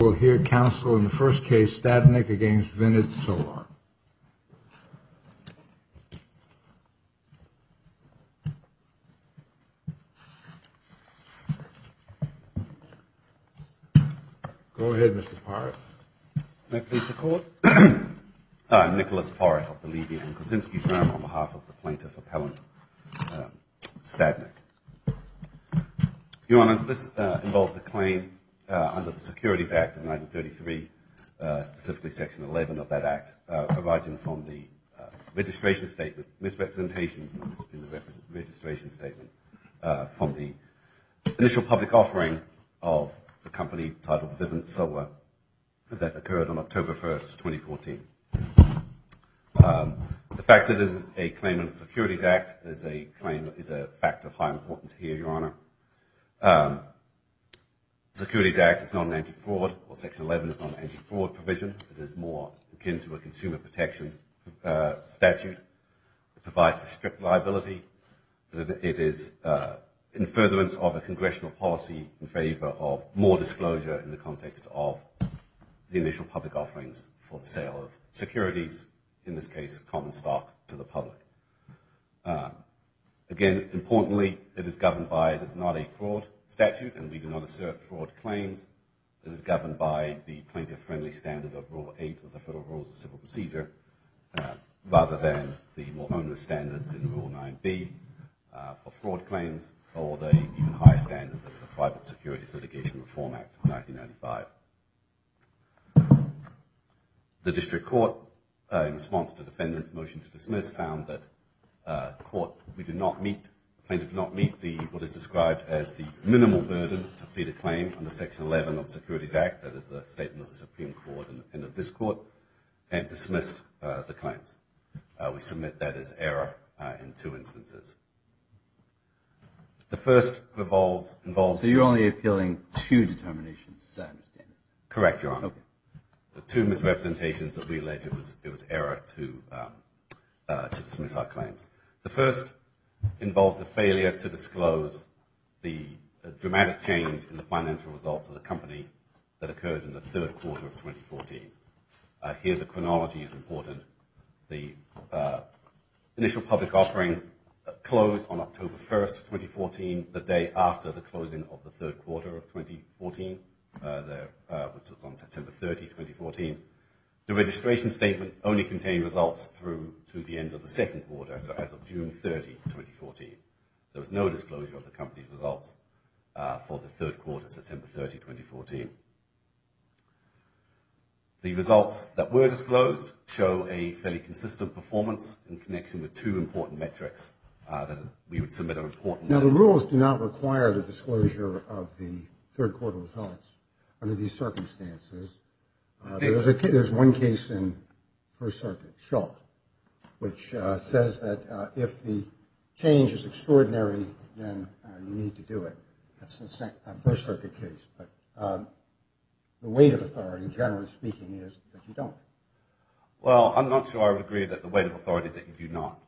We'll hear counsel in the first case, Stadnick v. Vivint Solar. Go ahead, Mr. Parrott. Thank you, Mr. Court. Nicholas Parrott of the Levy & Kuczynski firm on behalf of the plaintiff appellant Stadnick. Your Honour, this involves a claim under the Securities Act of 1933, specifically Section 11 of that Act, arising from the registration statement, misrepresentations in the registration statement from the initial public offering of the company titled Vivint Solar that occurred on October 1st, 2014. The fact that this is a claim under the Securities Act is a claim that is a fact of high importance here, Your Honour. The Securities Act is not an anti-fraud or Section 11 is not an anti-fraud provision. It is more akin to a consumer protection statute. It provides for strict liability. It is in furtherance of a congressional policy in favour of more disclosure in the context of the initial public offerings for the sale of securities, in this case common stock, to the public. Again, importantly, it is governed by, as it's not a fraud statute and we do not assert fraud claims, it is governed by the plaintiff-friendly standard of Rule 8 of the Federal Rules of Civil Procedure, rather than the more onerous standards in Rule 9b for fraud claims or the even higher standards of the Private Securities Litigation Reform Act of 1995. The District Court, in response to the defendant's motion to dismiss, found that the plaintiff did not meet what is described as the minimal burden to plead a claim under Section 11 of the Securities Act, that is the statement of the Supreme Court and of this Court, and dismissed the claims. We submit that as error in two instances. The first involves... So you're only appealing two determinations, is that understandable? Correct, Your Honor. The two misrepresentations that we allege it was error to dismiss our claims. The first involves the failure to disclose the dramatic change in the financial results of the company that occurred in the third quarter of 2014. Here the chronology is important. The initial public offering closed on October 1st, 2014, the day after the closing of the third quarter of 2014, which was on September 30th, 2014. The registration statement only contained results through to the end of the second quarter, so as of June 30th, 2014. There was no disclosure of the company's results for the third quarter, September 30th, 2014. The results that were disclosed show a fairly consistent performance in connection with two important metrics that we would submit a report... Now the rules do not require the disclosure of the third quarter results under these circumstances. There's one case in First Circuit, Schulte, which says that if the change is extraordinary, then you need to do it. That's the First Circuit case, but the weight of authority, generally speaking, is that you don't. Well, I'm not sure I would agree that the weight of authority is that you do not.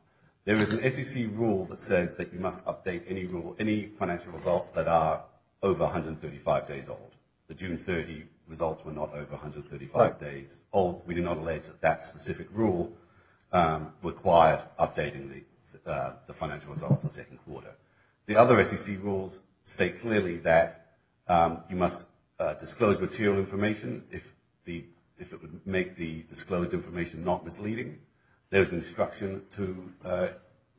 There is an SEC rule that says that you must update any financial results that are over 135 days old. The June 30 results were not over 135 days old. We do not allege that that specific rule required updating the financial results in the second quarter. The other SEC rules state clearly that you must disclose material information if it would make the disclosed information not misleading. There's an instruction to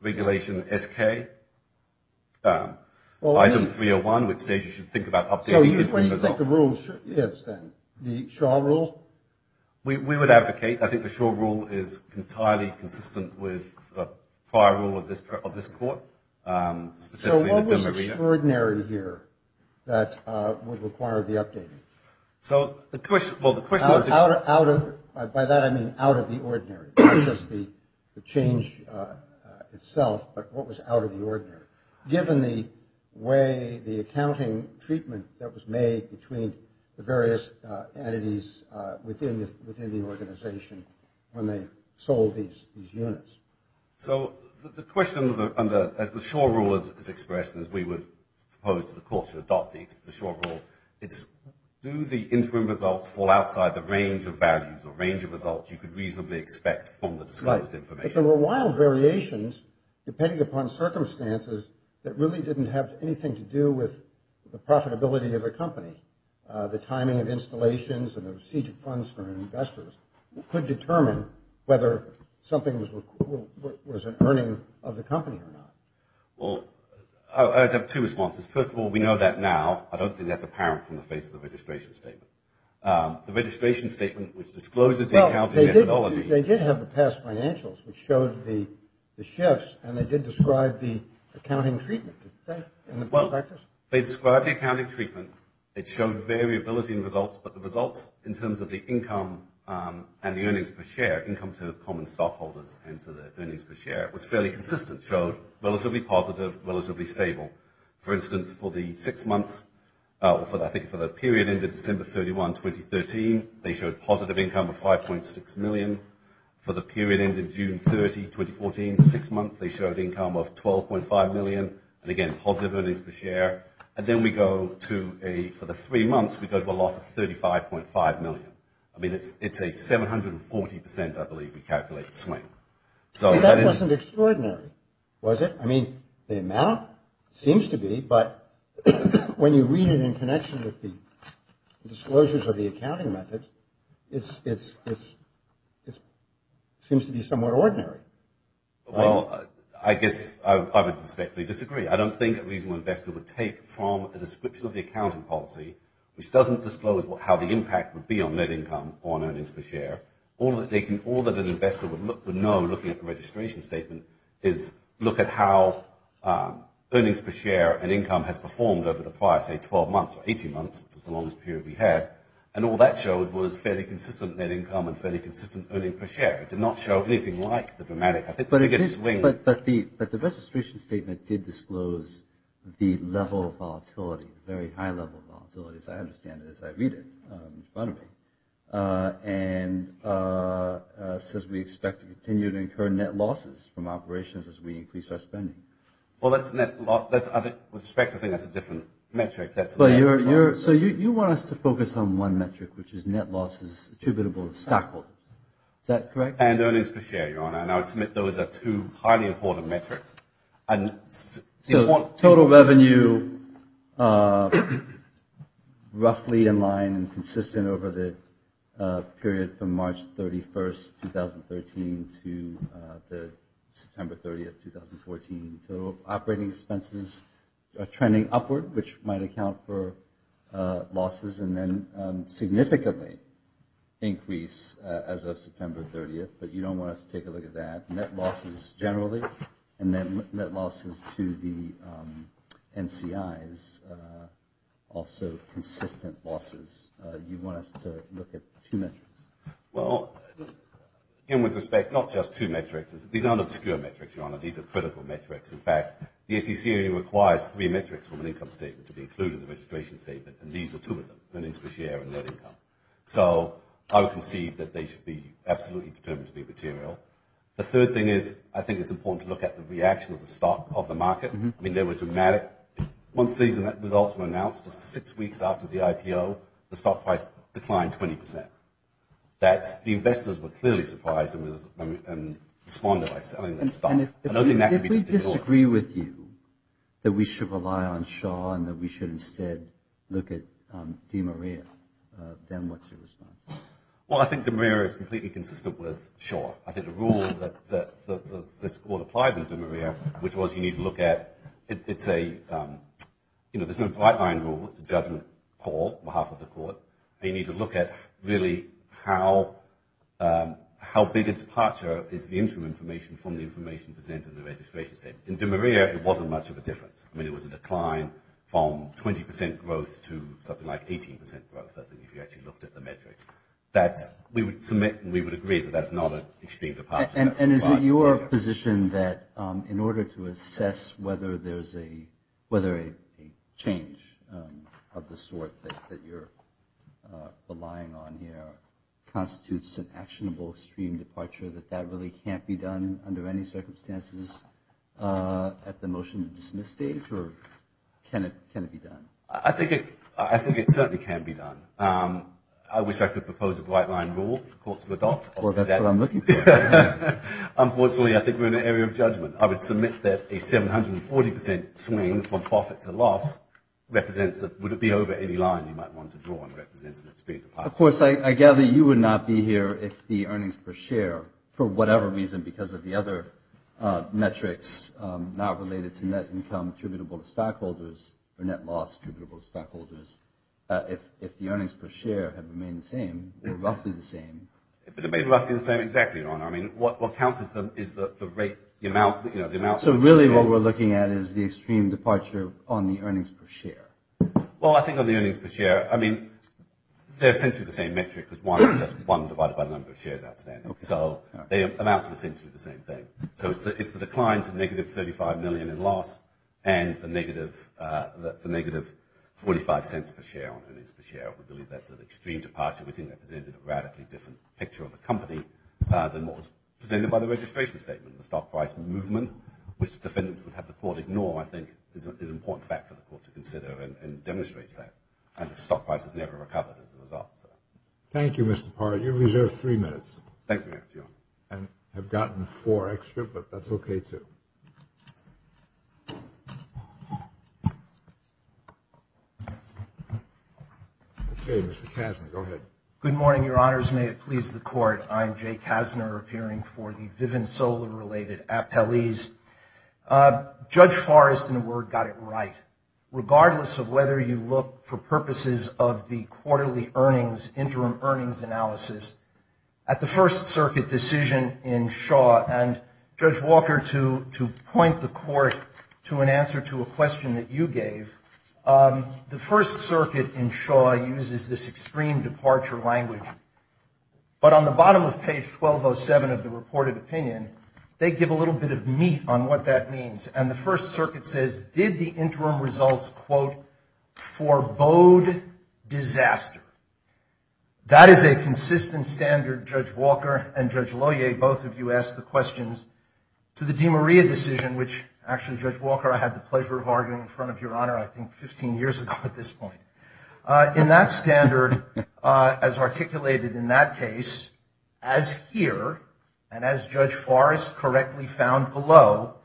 Regulation SK, Item 301, which says you should think about updating... So you think the rule is the Shaw rule? We would advocate. I think the Shaw rule is entirely consistent with the prior rule of this court. So what was extraordinary here that would require the updating? By that I mean out of the ordinary, not just the change itself, but what was out of the ordinary. Given the way the accounting treatment that was made between the various entities within the organization when they sold these units. So the question, as the Shaw rule is expressed, as we would propose to the court to adopt the Shaw rule, it's do the interim results fall outside the range of values or range of results you could reasonably expect from the disclosed information? If there were wild variations, depending upon circumstances, that really didn't have anything to do with the profitability of the company, the timing of installations and the receipt of funds from investors could determine whether something was an earning of the company or not. Well, I'd have two responses. First of all, we know that now. I don't think that's apparent from the face of the registration statement. The registration statement, which discloses the accounting methodology... ...showed the shifts and they did describe the accounting treatment. Well, they described the accounting treatment. It showed variability in results, but the results in terms of the income and the earnings per share, income to common stockholders and to the earnings per share, was fairly consistent, showed relatively positive, relatively stable. For instance, for the six months, I think for the period ended December 31, 2013, they showed positive income of 5.6 million. For the period ended June 30, 2014, six months, they showed income of 12.5 million. And again, positive earnings per share. And then we go to, for the three months, we go to a loss of 35.5 million. I mean, it's a 740 percent, I believe, we calculated swing. That wasn't extraordinary, was it? I mean, the amount seems to be, but when you read it in connection with the disclosures of the accounting methods, it seems to be somewhat ordinary. Well, I guess I would respectfully disagree. I don't think a reasonable investor would take from the description of the accounting policy, which doesn't disclose how the impact would be on net income or on earnings per share. All that an investor would know looking at the registration statement is, look at how earnings per share and income has performed over the prior, say, 12 months or 18 months, which was the longest period we had, and all that showed was fairly consistent net income and fairly consistent earnings per share. It did not show anything like the dramatic swing. But the registration statement did disclose the level of volatility, very high level of volatility, as I understand it, as I read it in front of me. And it says we expect to continue to incur net losses from operations as we increase our spending. Well, that's net loss. With respect, I think that's a different metric. So you want us to focus on one metric, which is net losses attributable to stockhold. Is that correct? And earnings per share, Your Honor. And I would submit those are two highly important metrics. So total revenue, roughly in line and consistent over the period from March 31st, 2013, to September 30th, 2014. So operating expenses are trending upward, which might account for losses and then significantly increase as of September 30th. But you don't want us to take a look at that. Net losses generally and then net losses to the NCIs, also consistent losses. You want us to look at two metrics. Well, again, with respect, not just two metrics. These aren't obscure metrics, Your Honor. These are critical metrics. In fact, the SEC requires three metrics from an income statement to be included in the registration statement, and these are two of them, earnings per share and net income. So I would concede that they should be absolutely determined to be material. The third thing is I think it's important to look at the reaction of the stock of the market. I mean, they were dramatic. Once these results were announced, just six weeks after the IPO, the stock price declined 20%. The investors were clearly surprised and responded by selling their stock. And if we disagree with you that we should rely on Shaw and that we should instead look at DeMaria, then what's your response? Well, I think DeMaria is completely consistent with Shaw. I think the rule that this Court applied to DeMaria, which was you need to look at, it's a, you know, there's no guideline rule. It's a judgment call on behalf of the Court. But you need to look at really how big a departure is the interim information from the information presented in the registration statement. In DeMaria, it wasn't much of a difference. I mean, it was a decline from 20% growth to something like 18% growth, I think, if you actually looked at the metrics. That's, we would submit and we would agree that that's not an extreme departure. And is it your position that in order to assess whether there's a, whether a change of the sort that you're relying on here constitutes an actionable extreme departure, that that really can't be done under any circumstances at the motion to dismiss stage, or can it be done? I think it certainly can be done. I wish I could propose a guideline rule for courts to adopt. Well, that's what I'm looking for. Unfortunately, I think we're in an area of judgment. I would submit that a 740% swing from profit to loss represents, would it be over any line you might want to draw and represents an extreme departure. Of course, I gather you would not be here if the earnings per share, for whatever reason, because of the other metrics not related to net income attributable to stockholders, or net loss attributable to stockholders, if the earnings per share had remained the same, if it remained roughly the same. If it remained roughly the same, exactly, Your Honor. I mean, what counts is the rate, the amount. So really what we're looking at is the extreme departure on the earnings per share. Well, I think on the earnings per share, I mean, they're essentially the same metric, because one is just one divided by the number of shares outstanding. So the amounts are essentially the same thing. So it's the declines of negative $35 million in loss and the negative $0.45 per share on earnings per share. We believe that's an extreme departure. We think that presented a radically different picture of the company than what was presented by the registration statement. The stock price movement, which defendants would have the court ignore, I think, is an important factor for the court to consider and demonstrate that. And the stock price has never recovered as a result. Thank you, Mr. Parra. You're reserved three minutes. Thank you, Your Honor. I have gotten four extra, but that's okay, too. Okay, Mr. Kassner, go ahead. Good morning, Your Honors. May it please the Court, I'm Jay Kassner, appearing for the Vivint Solar-related appellees. Judge Forrest, in a word, got it right. Regardless of whether you look for purposes of the quarterly earnings, interim earnings analysis, at the First Circuit decision in Shaw, and, Judge Walker, to point the Court to an answer to a question that you gave, the First Circuit in Shaw uses this extreme departure language. But on the bottom of page 1207 of the reported opinion, they give a little bit of meat on what that means. And the First Circuit says, did the interim results, quote, forebode disaster? That is a consistent standard, Judge Walker and Judge Lohier, both of you asked the questions to the DeMaria decision, which, actually, Judge Walker, I had the pleasure of arguing in front of Your Honor, I think, 15 years ago at this point. In that standard, as articulated in that case, as here, and as Judge Forrest correctly found below,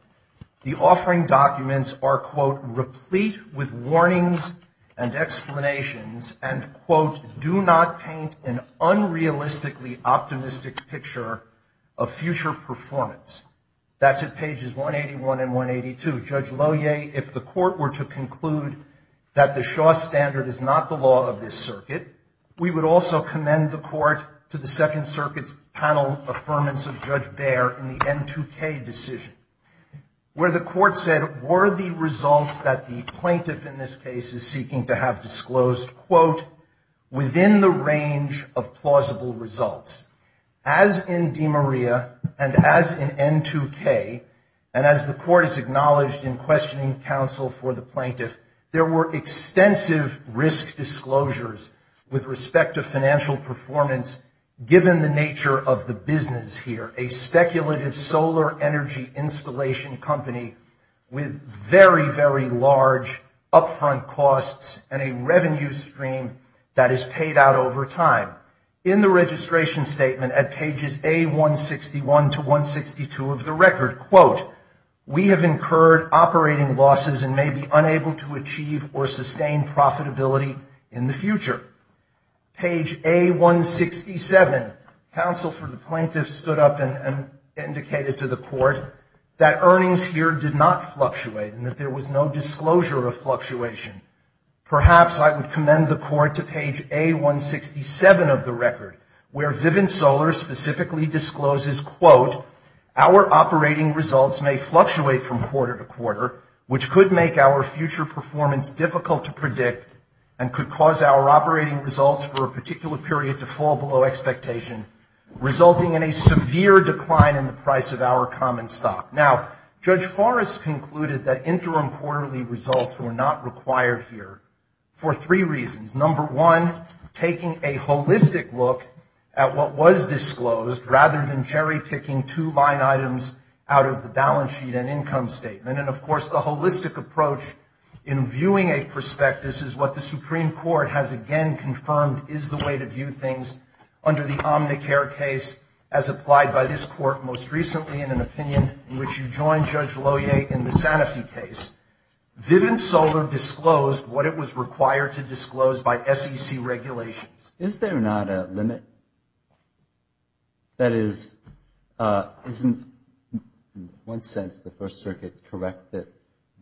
the offering documents are, quote, replete with warnings and explanations, and, quote, do not paint an unrealistically optimistic picture of future performance. That's at pages 181 and 182. Judge Lohier, if the Court were to conclude that the Shaw standard is not the law of this circuit, we would also commend the Court to the Second Circuit's panel affirmance of Judge Baer in the N2K decision, where the Court said, were the results that the plaintiff in this case is seeking to have disclosed, quote, within the range of plausible results? As in DeMaria and as in N2K, and as the Court has acknowledged in questioning counsel for the plaintiff, there were extensive risk disclosures with respect to financial performance given the nature of the business here, a speculative solar energy installation company with very, very large upfront costs and a revenue stream that is paid out over time. In the registration statement at pages A161 to 162 of the record, quote, we have incurred operating losses and may be unable to achieve or sustain profitability in the future. Page A167, counsel for the plaintiff stood up and indicated to the Court that earnings here did not fluctuate and that there was no disclosure of fluctuation. Perhaps I would commend the Court to page A167 of the record, where Vivint Solar specifically discloses, quote, our operating results may fluctuate from quarter to quarter, which could make our future performance difficult to predict and could cause our operating results for a particular period to fall below expectation, resulting in a severe decline in the price of our common stock. Now, Judge Forrest concluded that interim quarterly results were not required here for three reasons. Number one, taking a holistic look at what was disclosed rather than cherry-picking two line items out of the balance sheet and income statement. And, of course, the holistic approach in viewing a prospectus is what the Supreme Court has again confirmed is the way to view things under the Omnicare case as applied by this Court most recently in an opinion in which you joined Judge Lohier in the Sanofi case. Vivint Solar disclosed what it was required to disclose by SEC regulations. Is there not a limit? That is, isn't, in one sense, the First Circuit correct that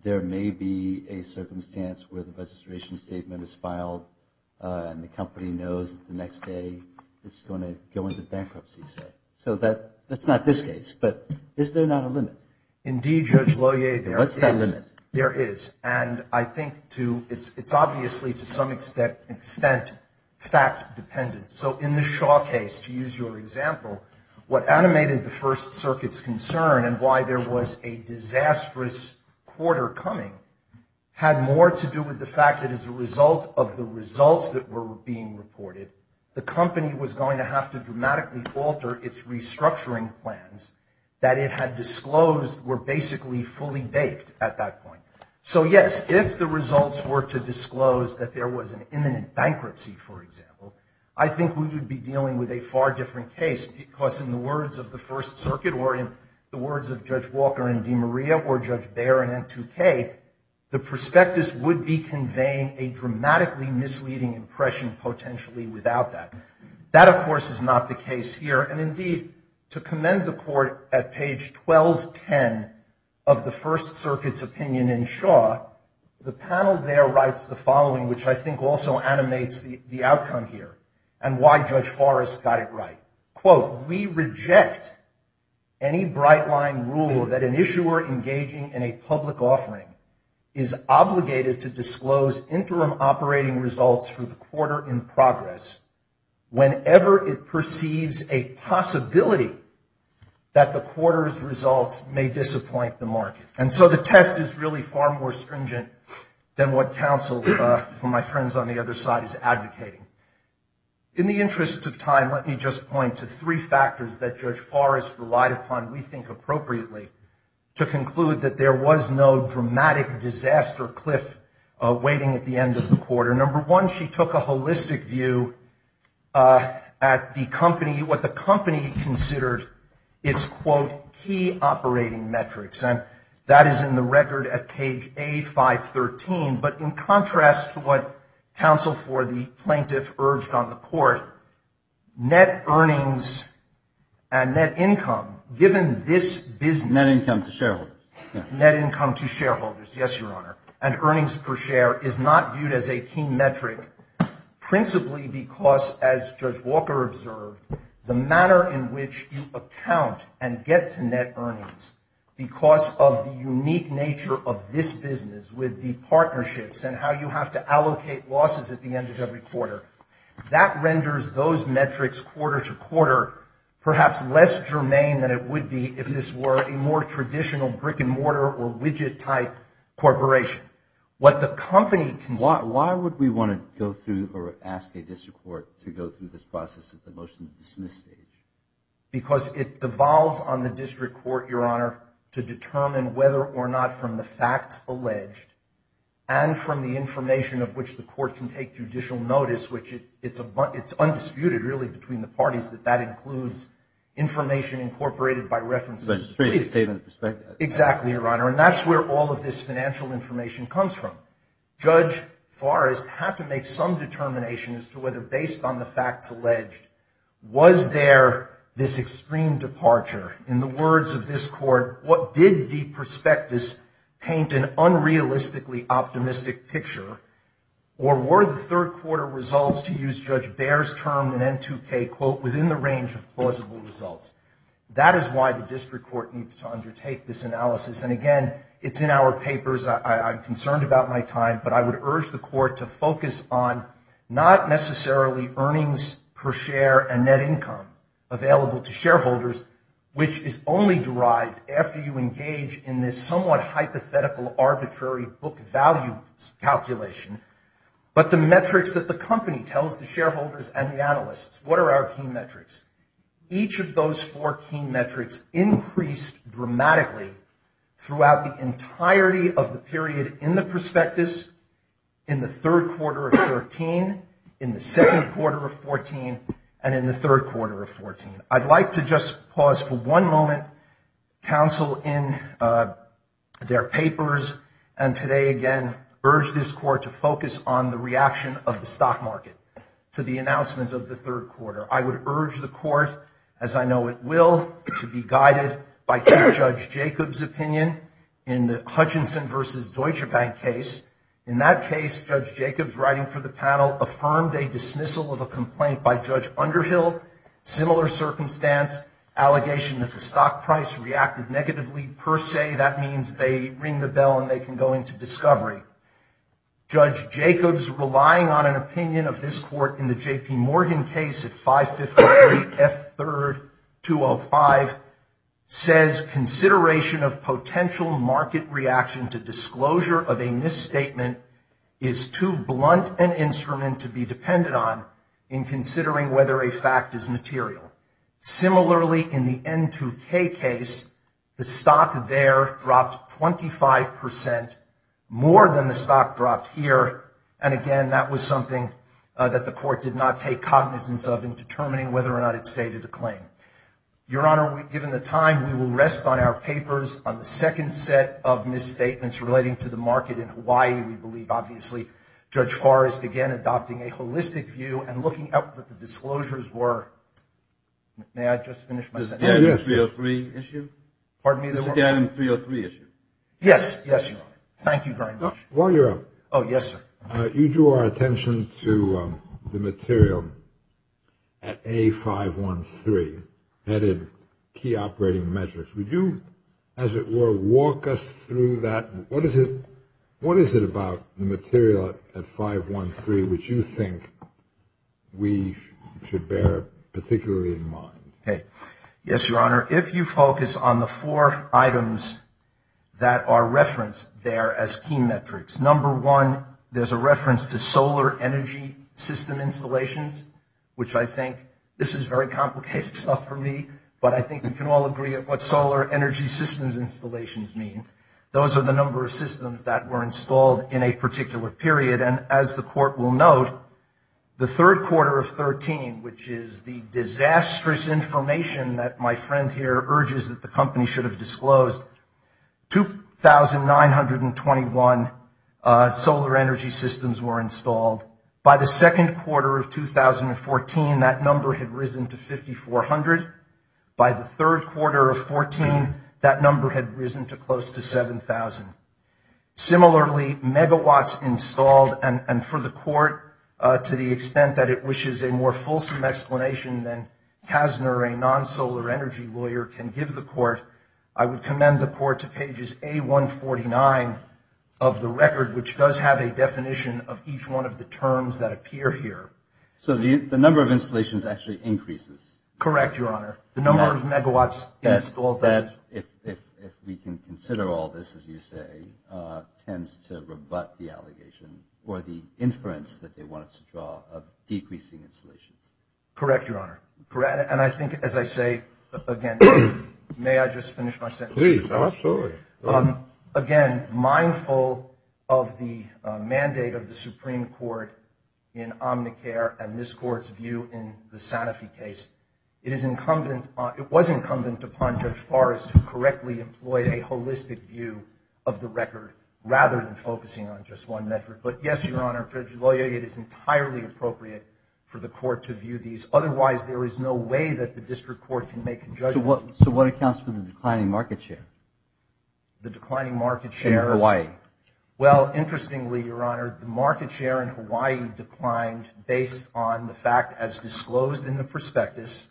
there may be a circumstance where the registration statement is filed and the company knows the next day it's going to go into bankruptcy? So that's not this case, but is there not a limit? Indeed, Judge Lohier, there is. And what's that limit? There is, and I think it's obviously to some extent fact-dependent. So in the Shaw case, to use your example, what animated the First Circuit's concern and why there was a disastrous quarter coming had more to do with the fact that as a result of the results that were being reported, the company was going to have to dramatically alter its restructuring plans, that it had disclosed were basically fully baked at that point. So, yes, if the results were to disclose that there was an imminent bankruptcy, for example, I think we would be dealing with a far different case because in the words of the First Circuit or in the words of Judge Walker and DeMaria or Judge Baer and N2K, the prospectus would be conveying a dramatically misleading impression potentially without that. That, of course, is not the case here. And, indeed, to commend the court at page 1210 of the First Circuit's opinion in Shaw, the panel there writes the following, which I think also animates the outcome here and why Judge Forrest got it right. Quote, we reject any bright-line rule that an issuer engaging in a public offering is obligated to disclose that the quarter's results may disappoint the market. And so the test is really far more stringent than what counsel, for my friends on the other side, is advocating. In the interest of time, let me just point to three factors that Judge Forrest relied upon, we think appropriately, to conclude that there was no dramatic disaster cliff waiting at the end of the quarter. Number one, she took a holistic view at the company, what the company considered its, quote, key operating metrics. And that is in the record at page A513. But in contrast to what counsel for the plaintiff urged on the court, net earnings and net income, given this business. Net income to shareholders. Net income to shareholders, yes, Your Honor. And earnings per share is not viewed as a key metric, principally because, as Judge Walker observed, the manner in which you account and get to net earnings because of the unique nature of this business with the partnerships and how you have to allocate losses at the end of every quarter. That renders those metrics quarter to quarter perhaps less germane than it would be if this were a more traditional brick-and-mortar or widget-type corporation. What the company considered. Why would we want to go through or ask a district court to go through this process at the motion-to-dismiss stage? Because it devolves on the district court, Your Honor, to determine whether or not from the facts alleged and from the information of which the court can take judicial notice, which it's undisputed, really, between the parties that that includes information incorporated by references. Exactly, Your Honor. And that's where all of this financial information comes from. Judge Forrest had to make some determination as to whether, based on the facts alleged, was there this extreme departure? In the words of this court, what did the prospectus paint an unrealistically optimistic picture? Or were the third-quarter results, to use Judge Baer's term in N2K, quote, within the range of plausible results? That is why the district court needs to undertake this analysis. And, again, it's in our papers. I'm concerned about my time. But I would urge the court to focus on not necessarily earnings per share and net income available to shareholders, which is only derived after you engage in this somewhat hypothetical, arbitrary book value calculation, but the metrics that the company tells the shareholders and the analysts. What are our key metrics? Each of those four key metrics increased dramatically throughout the entirety of the period in the prospectus, in the third quarter of 2013, in the second quarter of 2014, and in the third quarter of 2014. I'd like to just pause for one moment, counsel, in their papers, and today, again, urge this court to focus on the reaction of the stock market to the announcement of the third quarter. I would urge the court, as I know it will, to be guided by Judge Jacob's opinion in the Hutchinson v. Deutsche Bank case. In that case, Judge Jacob's writing for the panel affirmed a dismissal of a complaint by Judge Underhill, similar circumstance, allegation that the stock price reacted negatively per se. That means they ring the bell and they can go into discovery. Judge Jacob's relying on an opinion of this court in the J.P. Morgan case at 553 F. 3rd, 205, says consideration of potential market reaction to disclosure of a misstatement is too blunt an instrument to be depended on in considering whether a fact is material. Similarly, in the N2K case, the stock there dropped 25%, more than the stock dropped here, and again, that was something that the court did not take cognizance of in determining whether or not it stated a claim. Your Honor, given the time, we will rest on our papers on the second set of misstatements relating to the market in Hawaii, we believe, obviously. Judge Forrest, again, adopting a holistic view and looking at what the disclosures were. May I just finish my sentence? The Gannon 303 issue? Pardon me? The Gannon 303 issue. Yes. Yes, Your Honor. Thank you very much. While you're up. Oh, yes, sir. You drew our attention to the material at A513, headed Key Operating Measures. Would you, as it were, walk us through that? What is it about the material at 513 which you think we should bear particularly in mind? Okay. Yes, Your Honor. If you focus on the four items that are referenced there as key metrics, number one, there's a reference to solar energy system installations, which I think, this is very complicated stuff for me, but I think we can all agree at what solar energy systems installations mean. Those are the number of systems that were installed in a particular period. And as the Court will note, the third quarter of 2013, which is the disastrous information that my friend here urges that the company should have disclosed, 2,921 solar energy systems were installed. By the second quarter of 2014, that number had risen to 5,400. By the third quarter of 2014, that number had risen to close to 7,000. Similarly, megawatts installed, and for the Court, to the extent that it wishes a more fulsome explanation than Kasner, a non-solar energy lawyer, can give the Court, I would commend the Court to pages A149 of the record, which does have a definition of each one of the terms that appear here. So the number of installations actually increases. Correct, Your Honor. The number of megawatts installed doesn't. If we can consider all this, as you say, tends to rebut the allegation, or the inference that they want us to draw of decreasing installations. Correct, Your Honor. And I think, as I say, again, may I just finish my sentence? Please, absolutely. Again, mindful of the mandate of the Supreme Court in Omnicare and this Court's view in the Sanofi case, it was incumbent upon Judge Forrest to correctly employ a holistic view of the record, rather than focusing on just one metric. But, yes, Your Honor, it is entirely appropriate for the Court to view these. Otherwise, there is no way that the District Court can make a judgment. So what accounts for the declining market share? The declining market share? In Hawaii. Well, interestingly, Your Honor, the market share in Hawaii declined based on the fact, as disclosed in the prospectus,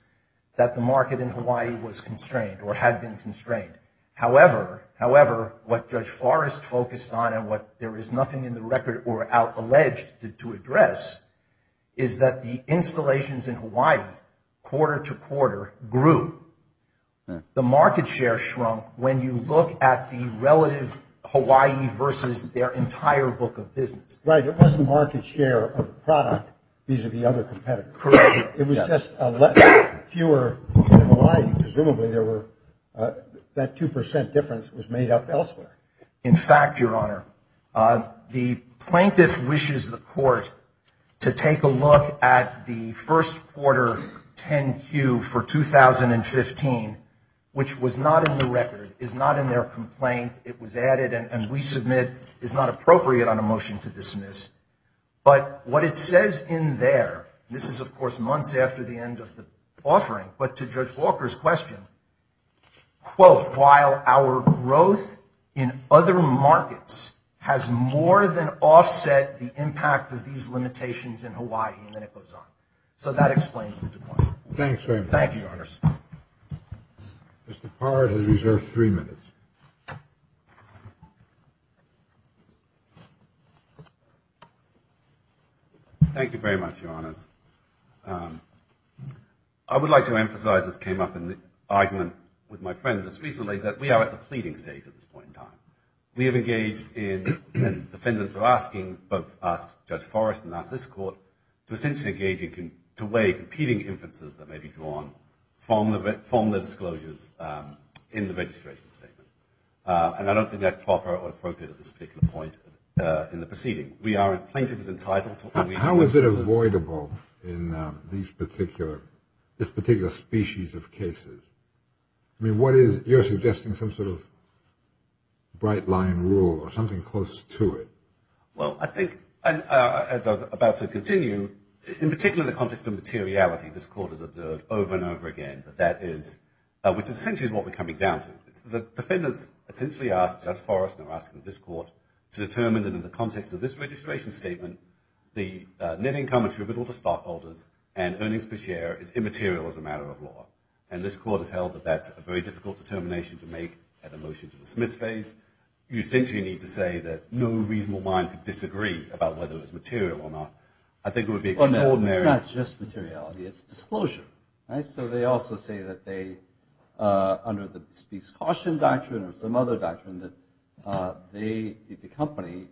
that the market in Hawaii was constrained, or had been constrained. However, what Judge Forrest focused on, and what there is nothing in the record or out alleged to address, is that the installations in Hawaii, quarter to quarter, grew. The market share shrunk when you look at the relative Hawaii versus their entire book of business. Right. It wasn't market share of the product vis-à-vis other competitors. Correct. It was just fewer in Hawaii. Presumably, that 2% difference was made up elsewhere. In fact, Your Honor, the plaintiff wishes the Court to take a look at the first quarter 10Q for 2015, which was not in the record, is not in their complaint. It was added, and we submit is not appropriate on a motion to dismiss. But what it says in there, this is, of course, months after the end of the offering, but to Judge Walker's question, quote, while our growth in other markets has more than offset the impact of these limitations in Hawaii, and then it goes on. So that explains the decline. Thanks very much. Thank you, Your Honors. Mr. Parr has reserved three minutes. Thank you very much, Your Honors. I would like to emphasize, this came up in the argument with my friend just recently, is that we are at the pleading stage at this point in time. We have engaged in, and defendants are asking, both us, Judge Forrest, and us, this Court, to essentially engage in, to weigh competing inferences that may be drawn from the disclosures in the registration statement. And I don't think that's proper or appropriate at this particular point in the proceeding. We are, plaintiff is entitled to... How is it avoidable? In these particular, this particular species of cases? I mean, what is, you're suggesting some sort of bright line rule or something close to it. Well, I think, as I was about to continue, in particular, in the context of materiality, this Court has observed over and over again that that is, which essentially is what we're coming down to. The defendants essentially ask Judge Forrest and are asking this Court to determine that in the context of this registration statement, the net income attributable to stockholders and earnings per share is immaterial as a matter of law. And this Court has held that that's a very difficult determination to make at a motion to dismiss phase. You essentially need to say that no reasonable mind could disagree about whether it's material or not. I think it would be extraordinary... Well, no, it's not just materiality, it's disclosure. So they also say that they, under the speech caution doctrine or some other doctrine, that they, the company,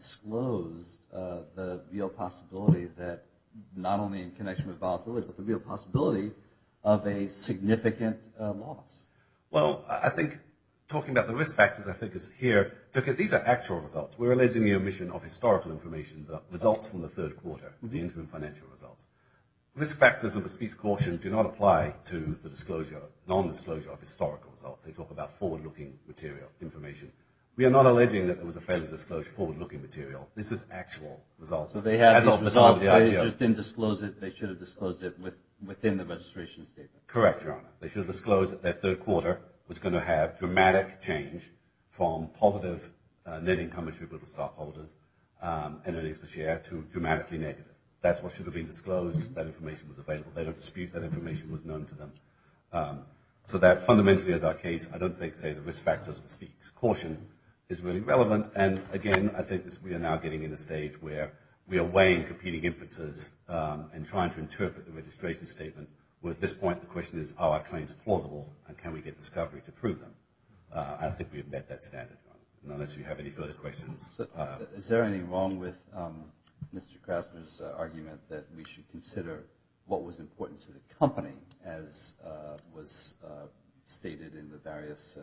disclosed the real possibility that not only in connection with volatility, but the real possibility of a significant loss. Well, I think talking about the risk factors I think is here. These are actual results. We're alleging the omission of historical information, the results from the third quarter, the interim financial results. Risk factors of the speech caution do not apply to the disclosure, non-disclosure of historical results. They talk about forward-looking material, information. We are not alleging that there was a failure to disclose forward-looking material. This is actual results. So they have these results, they just didn't disclose it, they should have disclosed it within the registration statement. Correct, Your Honor. They should have disclosed that their third quarter was going to have dramatic change from positive net income attributable to stockholders and earnings per share to dramatically negative. That's what should have been disclosed, that information was available. They don't dispute that information was known to them. So that fundamentally is our case. I don't think, say, the risk factors of the speech caution is really relevant. And, again, I think we are now getting in a stage where we are weighing competing inferences and trying to interpret the registration statement where at this point the question is, are our claims plausible and can we get discovery to prove them? I don't think we have met that standard, unless you have any further questions. Is there anything wrong with Mr. Krasner's argument that we should consider what was important to the company as was stated in the various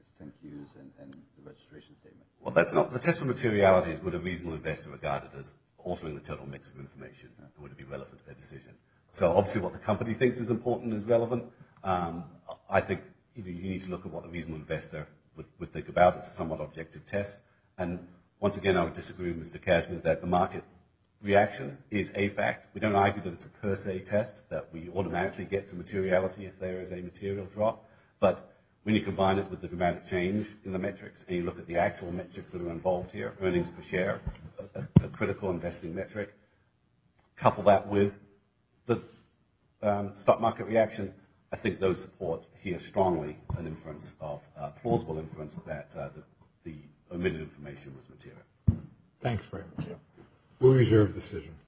extent used in the registration statement? Well, that's not, the test of materiality is what a reasonable investor regarded as altering the total mix of information and would it be relevant to their decision. So obviously what the company thinks is important is relevant. I think you need to look at what a reasonable investor would think about. It's a somewhat objective test. And, once again, I would disagree with Mr. Krasner that the market reaction is a fact. We don't argue that it's a per se test, that we automatically get to materiality if there is a material drop. But when you combine it with the dramatic change in the metrics, and you look at the actual metrics that are involved here, earnings per share, a critical investing metric, couple that with the stock market reaction, I think those support here strongly an inference of, a plausible inference, that the omitted information was material. Thanks, Frank. We'll reserve the decision.